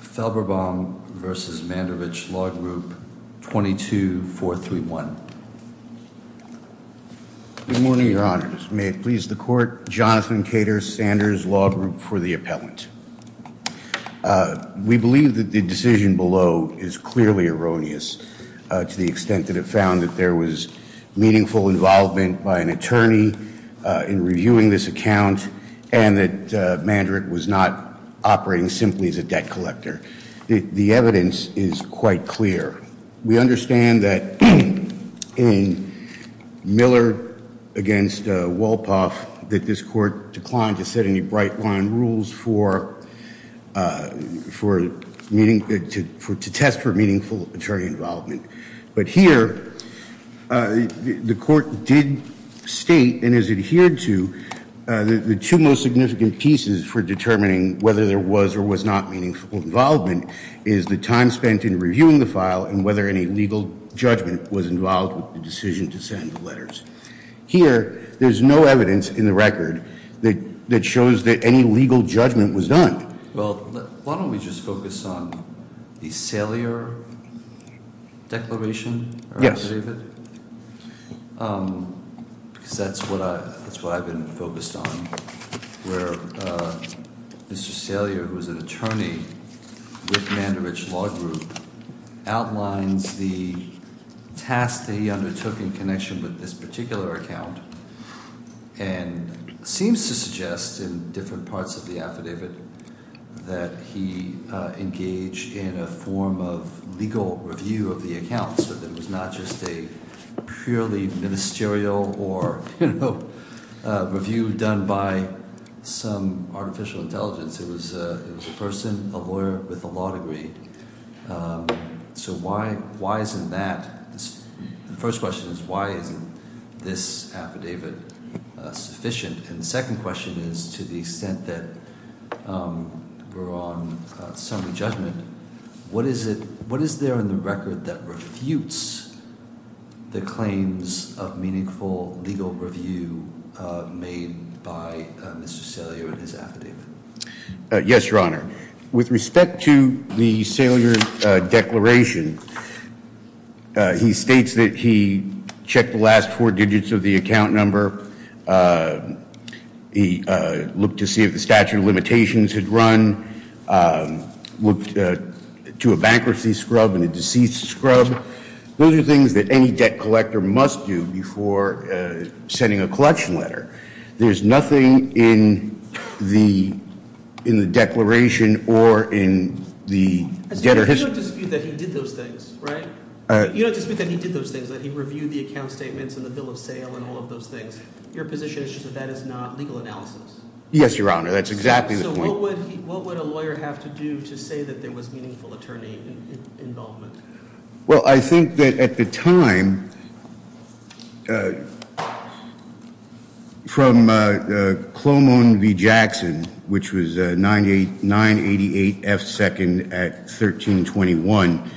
Felberbaum v. Mandarich Law Group, 22431. Good morning, Your Honors. May it please the Court. Jonathan Cater, Sanders Law Group for the Appellant. We believe that the decision below is clearly erroneous to the extent that it found that there was meaningful involvement by an attorney in reviewing this account and that Mandarich was not operating simply as a debt collector. The evidence is quite clear. We understand that in Miller v. Wolpoff that this Court declined to set any bright-line rules for meaning, to test for meaningful attorney involvement. But here, the Court did state and has adhered to the two most significant pieces for determining whether there was or was not meaningful involvement is the time spent in reviewing the file and whether any legal judgment was involved with the decision to send the letters. Here, there's no evidence in the record that shows that any legal judgment was done. Well, why don't we just focus on the Salyer Declaration? Yes. The affidavit, because that's what I've been focused on, where Mr. Salyer, who is an attorney with Mandarich Law Group, outlines the task that he undertook in connection with this particular account and seems to suggest in different parts of the affidavit that he engaged in a form of legal review of the account so that it was not just a purely ministerial or, you know, review done by some artificial intelligence. It was a person, a lawyer with a law degree. So why isn't that? The first question is why isn't this affidavit sufficient? And the second question is to the extent that we're on summary judgment, what is there in the record that refutes the claims of meaningful legal review made by Mr. Salyer and his affidavit? Yes, Your Honor. With respect to the Salyer Declaration, he states that he checked the last four digits of the account number. He looked to see if the statute of limitations had run, looked to a bankruptcy scrub and a deceased scrub. Those are things that any debt collector must do before sending a collection letter. There's nothing in the declaration or in the debtor history. You don't dispute that he did those things, right? You don't dispute that he did those things, that he reviewed the account statements and the bill of sale and all of those things. Your position is just that that is not legal analysis. Yes, Your Honor. That's exactly the point. So what would a lawyer have to do to say that there was meaningful attorney involvement? Well, I think that at the time, from Clomone v. Jackson, which was 988 F 2nd at 1321,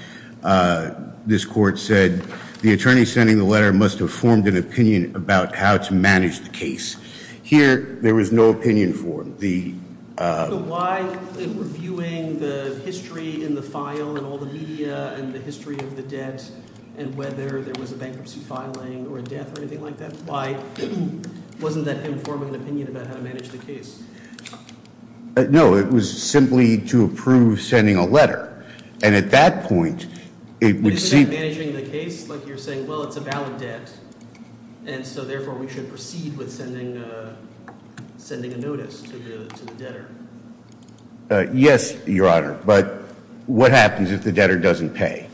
this court said, the attorney sending the letter must have formed an opinion about how to manage the case. Here, there was no opinion for him. So why reviewing the history in the file and all the media and the history of the debt and whether there was a bankruptcy filing or a death or anything like that? Why wasn't that him forming an opinion about how to manage the case? No, it was simply to approve sending a letter. And at that point, it would seem- Isn't that managing the case? Like you're saying, well, it's a valid debt. And so therefore, we should proceed with sending a notice to the debtor. Yes, Your Honor. But what happens if the debtor doesn't pay?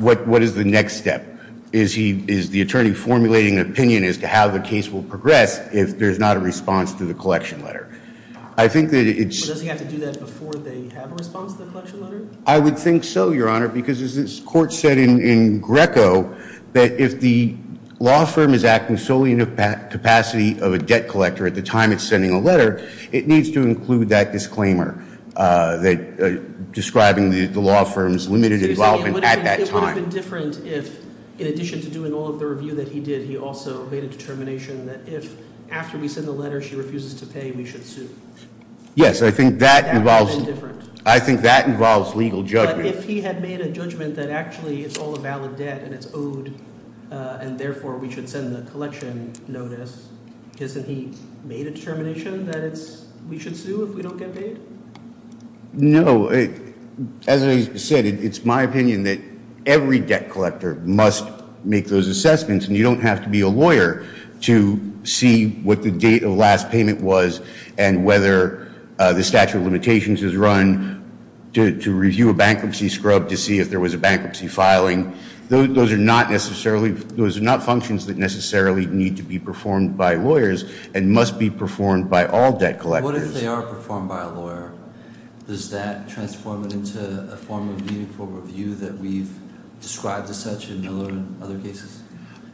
What is the next step? Is the attorney formulating an opinion as to how the case will progress if there's not a response to the collection letter? I think that it's- Does he have to do that before they have a response to the collection letter? I would think so, Your Honor, because as this court said in Greco, that if the law firm is acting solely in a capacity of a debt collector at the time it's sending a letter, it needs to include that disclaimer describing the law firm's limited involvement at that time. It would have been different if, in addition to doing all of the review that he did, he also made a determination that if after we send the letter, she refuses to pay, we should sue. Yes, I think that involves- That would have been different. I think that involves legal judgment. But if he had made a judgment that actually, it's all a valid debt and it's owed, and therefore, we should send the collection notice, isn't he made a determination that we should sue if we don't get paid? No. As I said, it's my opinion that every debt collector must make those assessments. And you don't have to be a lawyer to see what the date of last payment was and whether the statute of limitations is run to review a bankruptcy scrub to see if there was a bankruptcy filing. Those are not functions that necessarily need to be performed by lawyers and must be performed by all debt collectors. What if they are performed by a lawyer? Does that transform it into a form of meaningful review that we've described as such in other cases?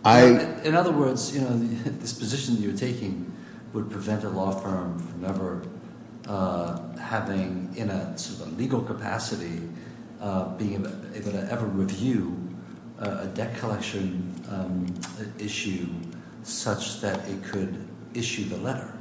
In other words, this position that you're taking would prevent a law firm from ever having, in a legal capacity, being able to ever review a debt collection issue such that it could issue the letter.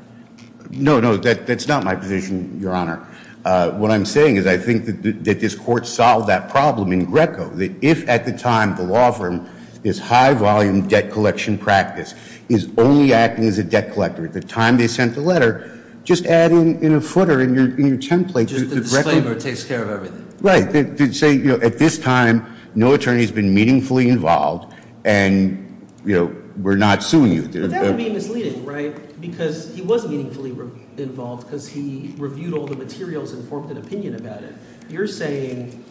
No, no, that's not my position, Your Honor. What I'm saying is I think that this court solved that problem in Greco. That if, at the time, the law firm is high volume debt collection practice, is only acting as a debt collector at the time they sent the letter, just add in a footer in your template. Just the disclaimer takes care of everything. Right. To say, at this time, no attorney has been meaningfully involved, and we're not suing you. But that would be misleading, right? Because he was meaningfully involved because he reviewed all the materials and formed an opinion about it. You're saying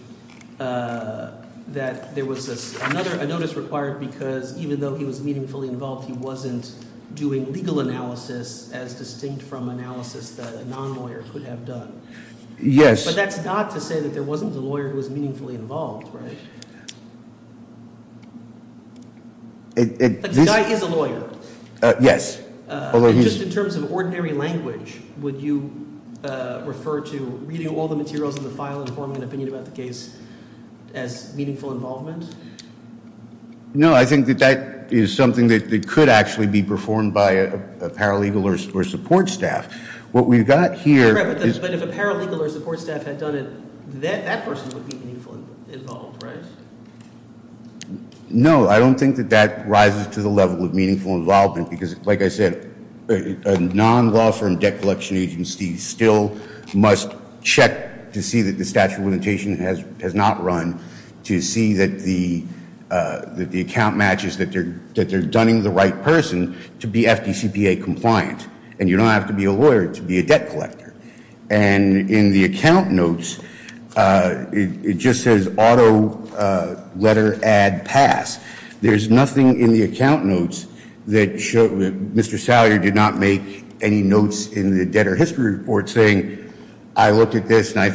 that there was another notice required because, even though he was meaningfully involved, he wasn't doing legal analysis as distinct from analysis that a non-lawyer could have done. Yes. But that's not to say that there wasn't a lawyer who was meaningfully involved, right? The guy is a lawyer. Yes. And just in terms of ordinary language, would you refer to reading all the materials in the file and forming an opinion about the case as meaningful involvement? No. I think that that is something that could actually be performed by a paralegal or support staff. What we've got here is- Correct. But if a paralegal or support staff had done it, that person would be meaningfully involved, right? No. I don't think that that rises to the level of meaningful involvement. Because, like I said, a non-law firm debt collection agency still must check to see that the statute of limitation has not run to see that the account matches that they're done in the right person to be FDCPA compliant. And you don't have to be a lawyer to be a debt collector. And in the account notes, it just says auto letter add pass. There's nothing in the account notes that Mr. Salyer did not make any notes in the debtor history report saying, I looked at this and I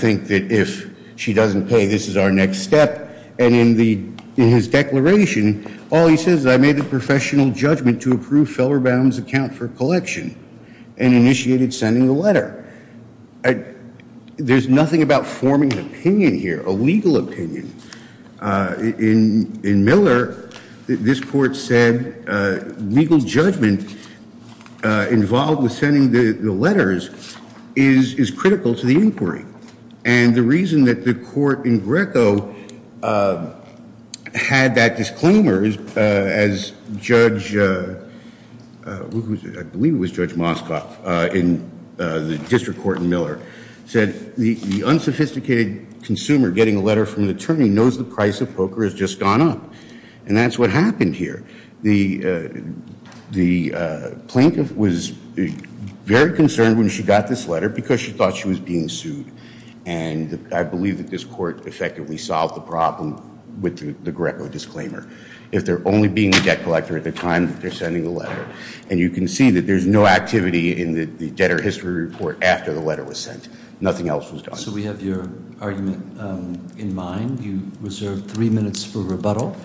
doesn't pay. This is our next step. And in his declaration, all he says is, I made a professional judgment to approve Feller Brown's account for collection and initiated sending the letter. There's nothing about forming an opinion here, a legal opinion. In Miller, this court said legal judgment involved with sending the letters is critical to the inquiry. And the reason that the court in Greco had that disclaimer as Judge, I believe it was Judge Moskoff in the district court in Miller, said the unsophisticated consumer getting a letter from the attorney knows the price of poker has just gone up. And that's what happened here. The plaintiff was very concerned when she got this letter because she thought she was being sued. And I believe that this court effectively solved the problem with the Greco disclaimer. If they're only being a debt collector at the time that they're sending the letter, and you can see that there's no activity in the debtor history report after the letter was sent. Nothing else was done. So we have your argument in mind. You reserve three minutes for rebuttal.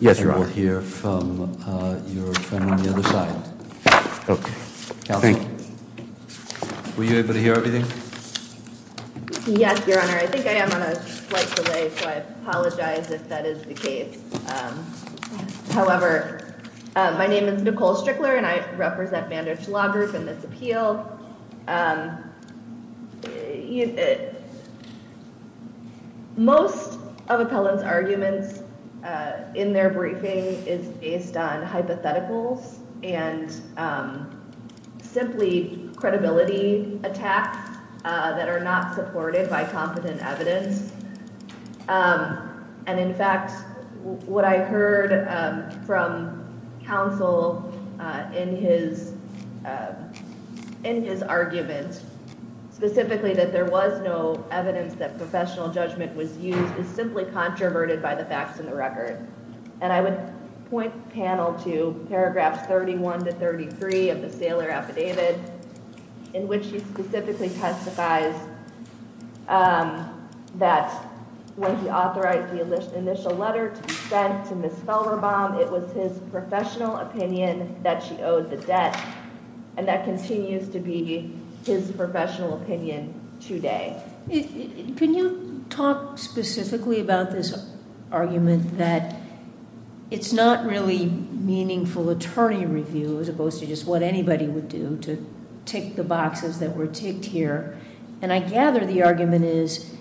Yes, Your Honor. And we'll hear from your friend on the other side. OK. Counsel. Thank you. Were you able to hear everything? Yes, Your Honor. I think I am on a slight delay, so I apologize if that is the case. However, my name is Nicole Strickler, and I represent Bandage Law Group in this appeal. Most of Appellant's arguments in their briefing is based on hypotheticals and simply credibility attacks that are not supported by competent evidence. And in fact, what I heard from counsel in his argument, specifically that there was no evidence that professional judgment was used, is simply controverted by the facts in the record. And I would point the panel to paragraphs 31 to 33 of the Sailor Affidavit, in which he specifically testifies that when he authorized the initial letter to be sent to Ms. Felderbaum, it was his professional opinion that she owed the debt. And that continues to be his professional opinion today. Can you talk specifically about this argument that it's not really meaningful attorney review, as opposed to just what anybody would do, to tick the boxes that were ticked here? And I gather the argument is,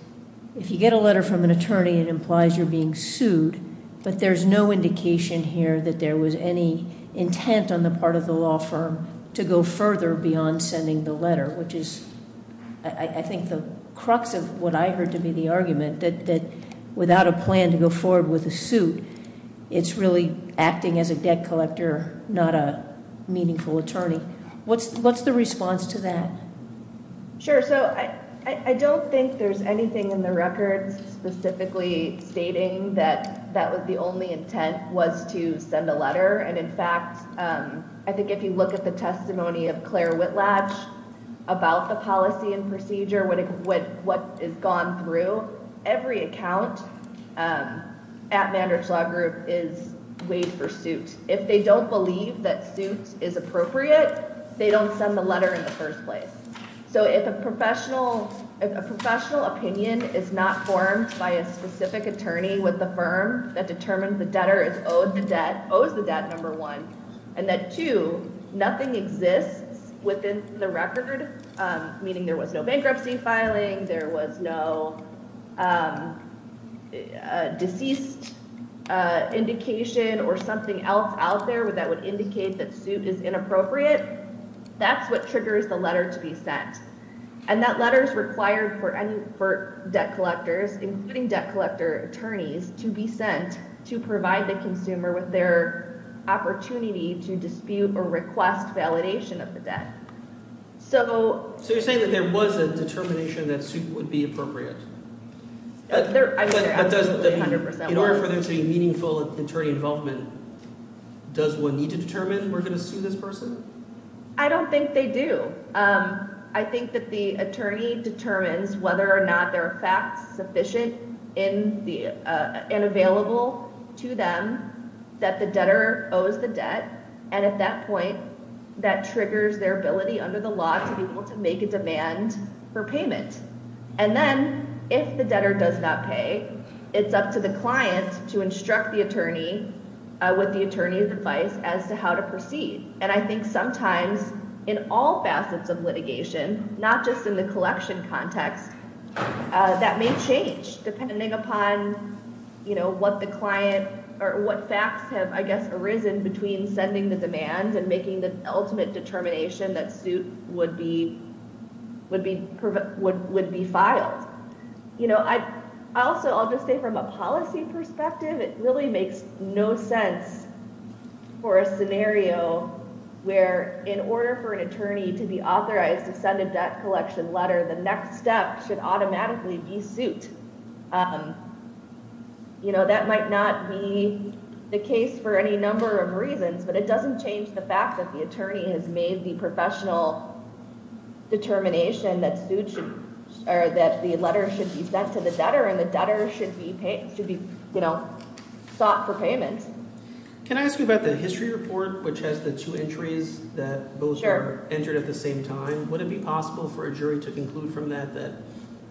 if you get a letter from an attorney, it implies you're being sued. But there's no indication here that there was any intent on the part of the law firm to go further beyond sending the letter, which is, I think, the crux of what I heard to be the argument, that without a plan to go forward with a suit, it's really acting as a debt collector, not a meaningful attorney. What's the response to that? Sure. So I don't think there's anything in the records specifically stating that that was the only intent was to send a letter. And in fact, I think if you look at the testimony of Claire Whitlatch about the policy and procedure, what is gone through, every account at Mandridge Law Group is waived for suit. If they don't believe that suit is appropriate, they don't send the letter in the first place. So if a professional opinion is not formed by a specific attorney with the firm that determines the debtor is owed the debt, owes the debt, number one, and that, two, nothing exists within the record, meaning there was no bankruptcy filing, there was no deceased indication, or something else out there that would indicate that suit is inappropriate, that's what triggers the letter to be sent. And that letter is required for debt collectors, including debt collector attorneys, to be sent to dispute or request validation of the debt. So you're saying that there was a determination that suit would be appropriate? In order for there to be meaningful attorney involvement, does one need to determine we're going to sue this person? I don't think they do. I think that the attorney determines whether or not there are facts sufficient and available to them that the debtor owes the debt, and at that point, that triggers their ability under the law to be able to make a demand for payment. And then, if the debtor does not pay, it's up to the client to instruct the attorney with the attorney's advice as to how to proceed. And I think sometimes, in all facets of litigation, not just in the collection context, that may change, depending upon what the client, or what facts have, I guess, arisen between sending the demand and making the ultimate determination that suit would be filed. Also, I'll just say, from a policy perspective, it really makes no sense for a scenario where, in order for an attorney to be authorized to send a debt collection letter, the next step should automatically be suit. That might not be the case for any number of reasons, but it doesn't change the fact that the attorney has made the professional determination that the letter should be sent to the debtor, and the debtor should be sought for payment. Can I ask you about the history report, which has the two entries that both were entered at the same time? Would it be possible for a jury to conclude from that that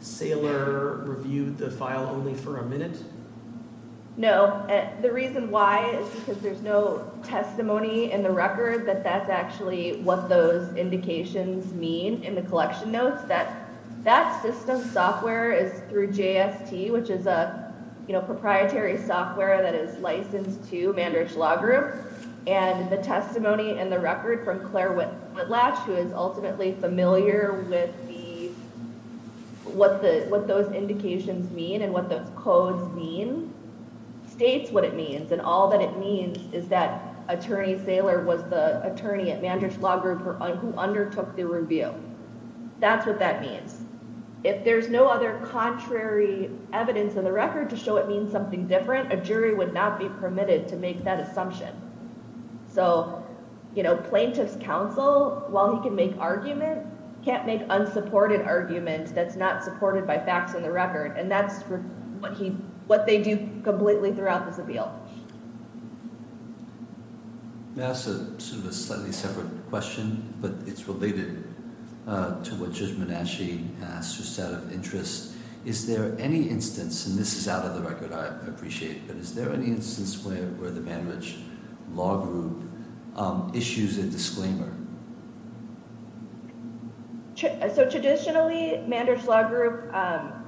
Saylor reviewed the file only for a minute? No. The reason why is because there's no testimony in the record that that's actually what those indications mean in the collection notes. That system software is through JST, which is a proprietary software that is licensed to Mandridge Law Group. And the testimony and the record from Claire Whitlatch, who is ultimately familiar with what those indications mean and what those codes mean, states what it means. And all that it means is that attorney Saylor was the attorney at Mandridge Law Group who undertook the review. That's what that means. If there's no other contrary evidence in the record to show it means something different, a jury would not be permitted to make that assumption. So plaintiff's counsel, while he can make argument, can't make unsupported argument that's not supported by facts in the record. And that's what they do completely throughout this appeal. May I ask sort of a slightly separate question? But it's related to what Judge Manasci asked, just out of interest. Is there any instance, and this is out of the record, I appreciate, but is there any instance where the Mandridge Law Group issues a disclaimer? So traditionally, Mandridge Law Group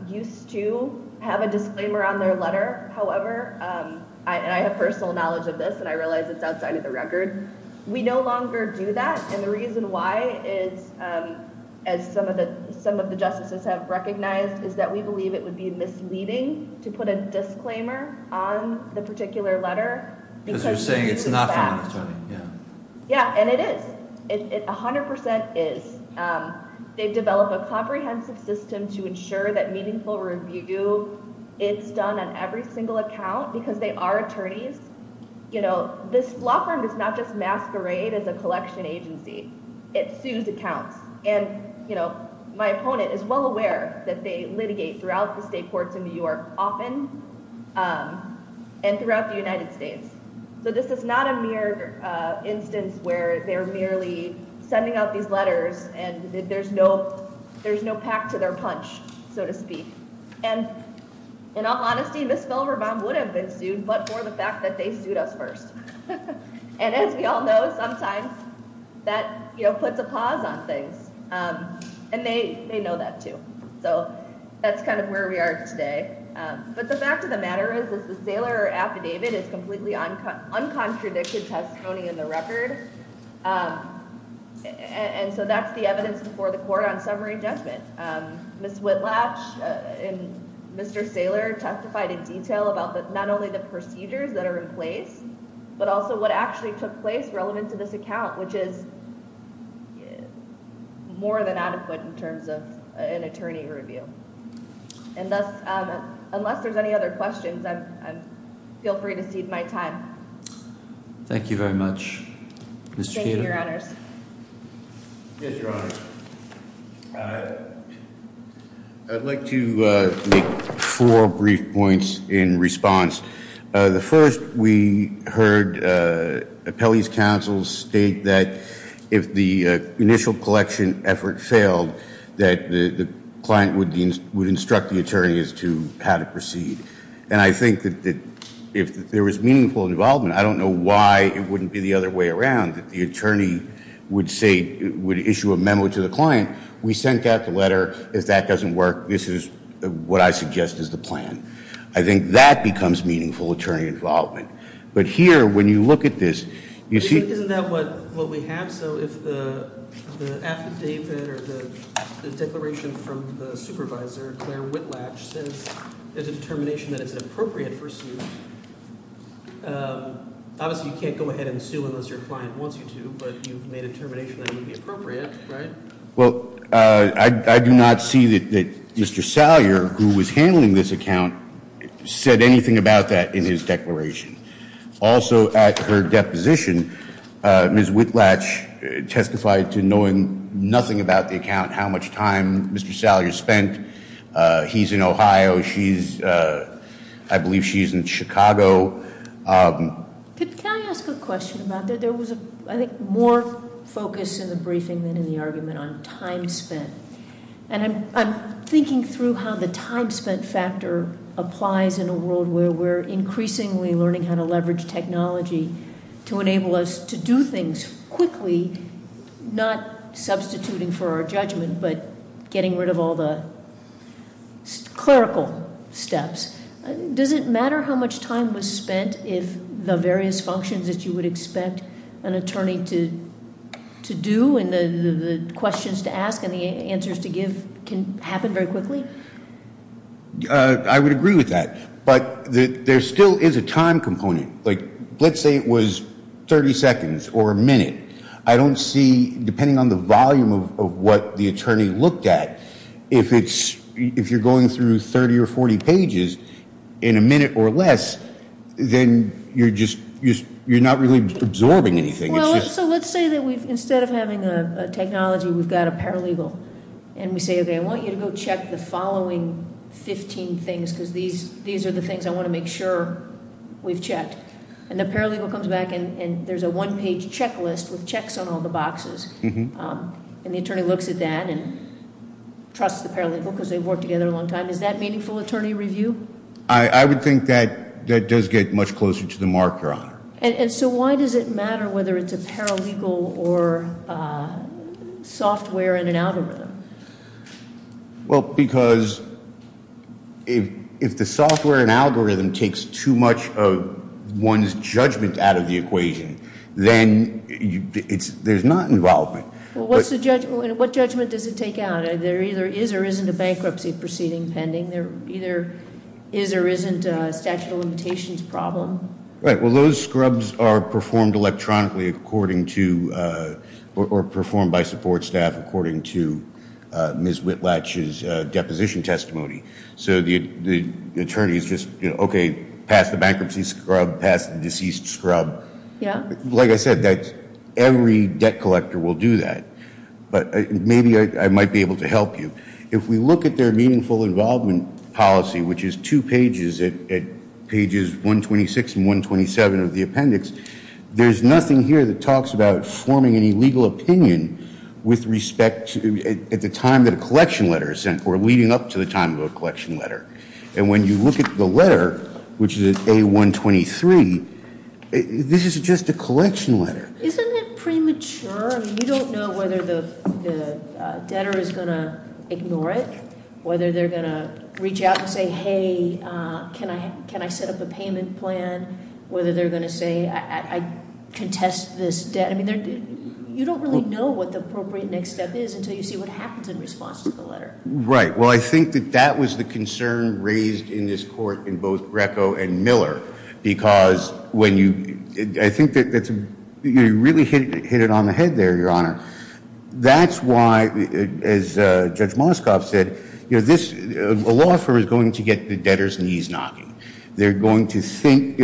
used to have a disclaimer on their letter. However, and I have personal knowledge of this, and I realize it's outside of the record, we no longer do that. And the reason why is, as some of the justices it would be misleading to put a disclaimer on the particular letter. Because you're saying it's not from an attorney, yeah. Yeah, and it is, it 100% is. They develop a comprehensive system to ensure that meaningful review, it's done on every single account, because they are attorneys. This law firm does not just masquerade as a collection agency, it sues accounts. And my opponent is well aware that they litigate throughout the state courts in New York, often, and throughout the United States. So this is not a mere instance where they're merely sending out these letters and there's no pack to their punch, so to speak. And in all honesty, Ms. Filibon would have been sued, but for the fact that they sued us first. And as we all know, sometimes that puts a pause on things. And they know that too. So that's kind of where we are today. But the fact of the matter is that the Saylor affidavit is completely uncontradicted testimony in the record. And so that's the evidence before the court on summary judgment. Ms. Whitlatch and Mr. Saylor testified in detail about not only the procedures that are in place, but also what actually took place relevant to this account, which is more than adequate in terms of an attorney review. And thus, unless there's any other questions, feel free to cede my time. Thank you very much, Mr. Cato. Thank you, your honors. Yes, your honor. I'd like to make four brief points in response. The first, we heard appellee's counsel state that if the initial collection effort failed, that the client would instruct the attorneys to how to proceed. And I think that if there was meaningful involvement, I don't know why it wouldn't be the other way around, that the attorney would issue a memo to the client. We sent out the letter, if that doesn't work, this is what I suggest is the plan. I think that becomes meaningful attorney involvement. But here, when you look at this, you see. Isn't that what we have? So if the affidavit or the declaration from the supervisor, Claire Whitlatch, says there's a determination that it's appropriate for sue. Obviously, you can't go ahead and sue unless your client wants you to, but you've made a determination that it would be appropriate, right? Well, I do not see that Mr. Salyer, who was handling this account, said anything about that in his declaration. Also at her deposition, Ms. Whitlatch testified to knowing nothing about the account, how much time Mr. Salyer spent. He's in Ohio, she's, I believe she's in Chicago. Can I ask a question about that? There was, I think, more focus in the briefing than in the argument on time spent. And I'm thinking through how the time spent factor applies in a world where we're increasingly learning how to leverage technology to enable us to do things quickly, not substituting for our judgment, but getting rid of all the clerical steps. Does it matter how much time was spent if the various functions that you would expect an attorney to do and the questions to ask and the answers to give can happen very quickly? I would agree with that. But there still is a time component. Like, let's say it was 30 seconds or a minute. I don't see, depending on the volume of what the attorney looked at, if you're going through 30 or 40 pages in a minute or less, then you're just, you're not really absorbing anything. Well, so let's say that we've, instead of having a technology, we've got a paralegal. And we say, okay, I want you to go check the following 15 things, because these are the things I want to make sure we've checked. And the paralegal comes back and there's a one-page checklist with checks on all the boxes. And the attorney looks at that and trusts the paralegal, because they've worked together a long time. Is that meaningful attorney review? I would think that that does get much closer to the marker on it. And so why does it matter whether it's a paralegal or software in an algorithm? Well, because if the software and algorithm takes too much of one's judgment out of the equation, then there's not involvement. Well, what judgment does it take out? There either is or isn't a bankruptcy proceeding pending. There either is or isn't a statute of limitations problem. Right, well, those scrubs are performed electronically according to, or performed by support staff according to Ms. Whitlatch's deposition testimony. So the attorney is just, okay, pass the bankruptcy scrub, pass the deceased scrub. Like I said, every debt collector will do that. But maybe I might be able to help you. If we look at their meaningful involvement policy, which is two pages at pages 126 and 127 of the appendix, there's nothing here that talks about forming any legal opinion with respect to, at the time that a collection letter is sent or leading up to the time of a collection letter. And when you look at the letter, which is A123, this is just a collection letter. Isn't it premature? I mean, you don't know whether the debtor is gonna ignore it, whether they're gonna reach out and say, hey, can I set up a payment plan, whether they're gonna say, I contest this debt. I mean, you don't really know what the appropriate next step is until you see what happens in response to the letter. Right, well, I think that that was the concern raised in this court in both Greco and Miller, because when you, I think that you really hit it on the head there, Your Honor. That's why, as Judge Moskov said, a law firm is going to get the debtor's knees knocking. They're going to think,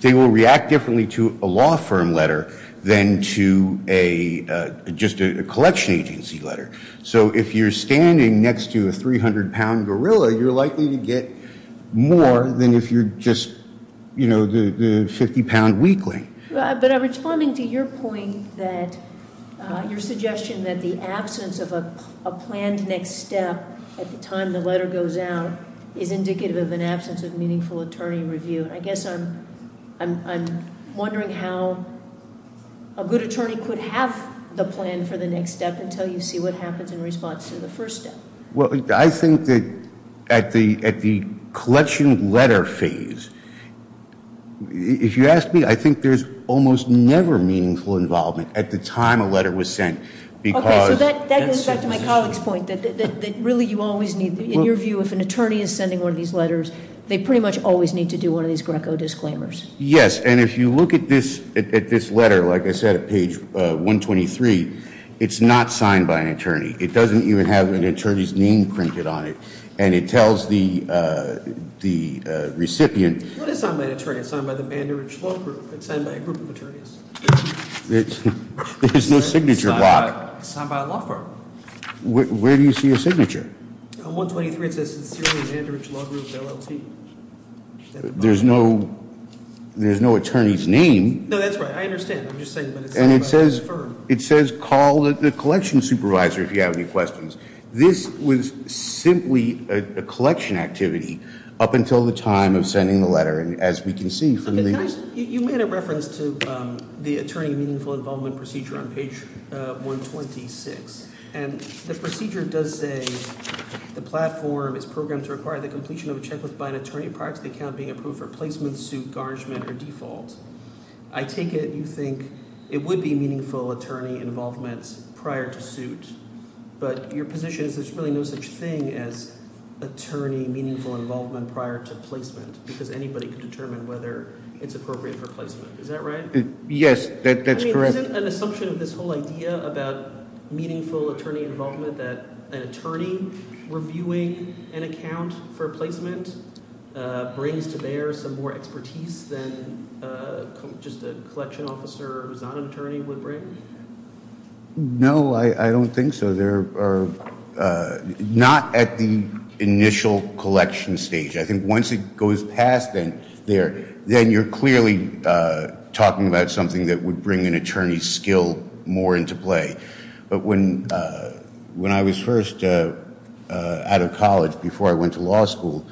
they will react differently to a law firm letter than to a, just a collection agency letter. So if you're standing next to a 300-pound gorilla, you're likely to get more than if you're just, you know, the 50-pound weakling. But I'm responding to your point that, your suggestion that the absence of a planned next step at the time the letter goes out is indicative of an absence of meaningful attorney review. And I guess I'm wondering how a good attorney could have the plan for the next step until you see what happens in response to the first step. Well, I think that at the collection letter phase, if you ask me, I think there's almost never meaningful involvement at the time a letter was sent, because- Okay, so that goes back to my colleague's point, that really you always need, in your view, if an attorney is sending one of these letters, they pretty much always need to do one of these Greco disclaimers. Yes, and if you look at this letter, like I said, at page 123, it's not signed by an attorney. It doesn't even have an attorney's name printed on it. And it tells the recipient- Well, it is signed by an attorney. It's signed by the Vanderridge Law Group. It's signed by a group of attorneys. There's no signature block. It's signed by a law firm. Where do you see a signature? On 123, it says, it's the Sierra Vanderridge Law Group, LLT. There's no attorney's name. No, that's right. I understand. I'm just saying, but it's signed by the firm. It says, call the collection supervisor if you have any questions. This was simply a collection activity up until the time of sending the letter. And as we can see from the- You made a reference to the attorney meaningful involvement procedure on page 126. And the procedure does say, the platform is programmed to require the completion of a checklist by an attorney prior to the account being approved for placement, suit, garnishment, or default. I take it you think it would be meaningful attorney involvement prior to suit. But your position is there's really no such thing as attorney meaningful involvement prior to placement because anybody could determine whether it's appropriate for placement. Is that right? Yes, that's correct. I mean, isn't an assumption of this whole idea about meaningful attorney involvement that an attorney reviewing an account for placement brings to bear some more expertise than just a collection officer who's not an attorney would bring? No, I don't think so. There are, not at the initial collection stage. I think once it goes past there, then you're clearly talking about something that would bring an attorney's skill more into play. But when I was first out of college before I went to law school,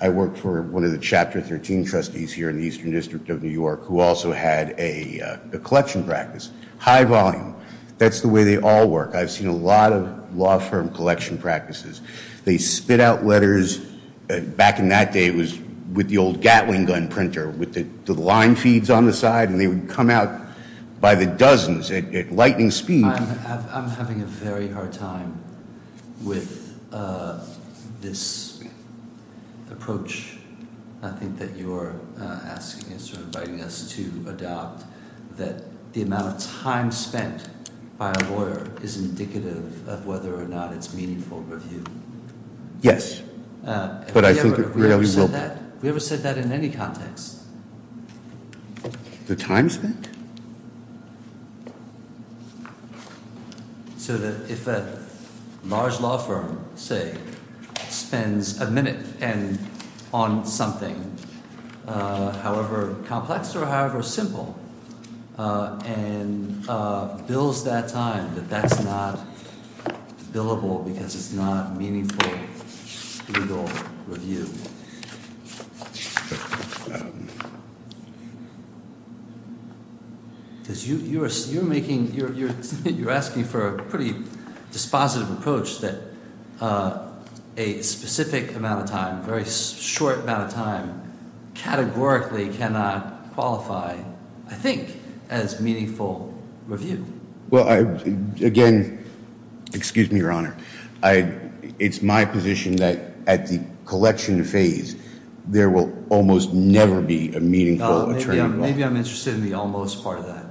I worked for one of the Chapter 13 trustees here in the Eastern District of New York who also had a collection practice, high volume. That's the way they all work. I've seen a lot of law firm collection practices. They spit out letters, back in that day it was with the old Gatling gun printer with the line feeds on the side and they would come out by the dozens at lightning speed. I'm having a very hard time with this approach. I think that you're asking us or inviting us to adopt that the amount of time spent by a lawyer is indicative of whether or not it's meaningful review. Yes, but I think it really will be. Have we ever said that in any context? The time spent? So that if a large law firm say spends a minute and on something, however complex or however simple and bills that time that that's not billable because it's not meaningful legal review. You're asking for a pretty dispositive approach that a specific amount of time, very short amount of time categorically cannot qualify, I think, as meaningful review. Well, again, excuse me, Your Honor. I, it's my position that at the collection phase, there will almost never be a meaningful attorney. Maybe I'm interested in the almost part of that.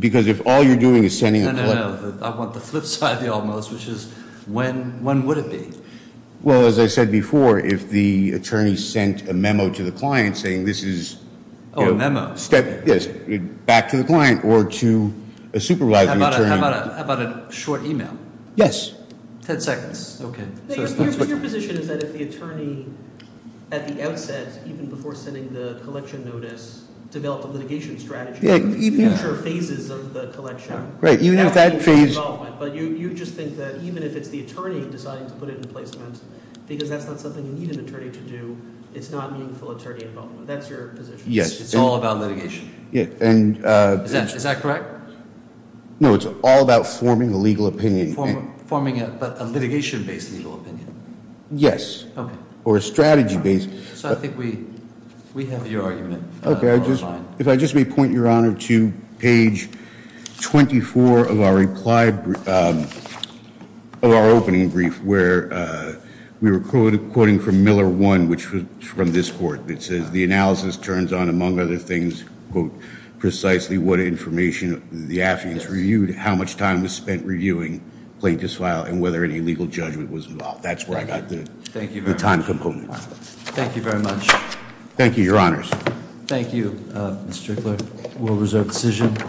Because if all you're doing is sending a- No, no, no. I want the flip side of the almost, which is when would it be? Well, as I said before, if the attorney sent a memo to the client saying, this is- Oh, a memo. Yes, back to the client or to a supervising attorney. How about a short email? Yes. 10 seconds. Okay. Your position is that if the attorney at the outset, even before sending the collection notice, developed a litigation strategy for future phases of the collection. Right, even if that phase- But you just think that even if it's the attorney deciding to put it in placement, because that's not something you need an attorney to do, it's not meaningful attorney involvement. That's your position. Yes. It's all about litigation. Yeah, and- Is that correct? No, it's all about forming a legal opinion. Forming a litigation-based legal opinion. Yes. Okay. Or a strategy-based. So I think we have your argument. Okay, if I just may point, Your Honor, to page 24 of our reply, of our opening brief, where we were quoting from Miller 1, which was from this court. It says, the analysis turns on, among other things, precisely what information the affidavits reviewed, how much time was spent reviewing plaintiff's file, and whether any legal judgment was involved. That's where I got the- Thank you very much. The time component. Thank you very much. Thank you, Your Honors. Thank you, Mr. Strickler. We'll reserve the decision.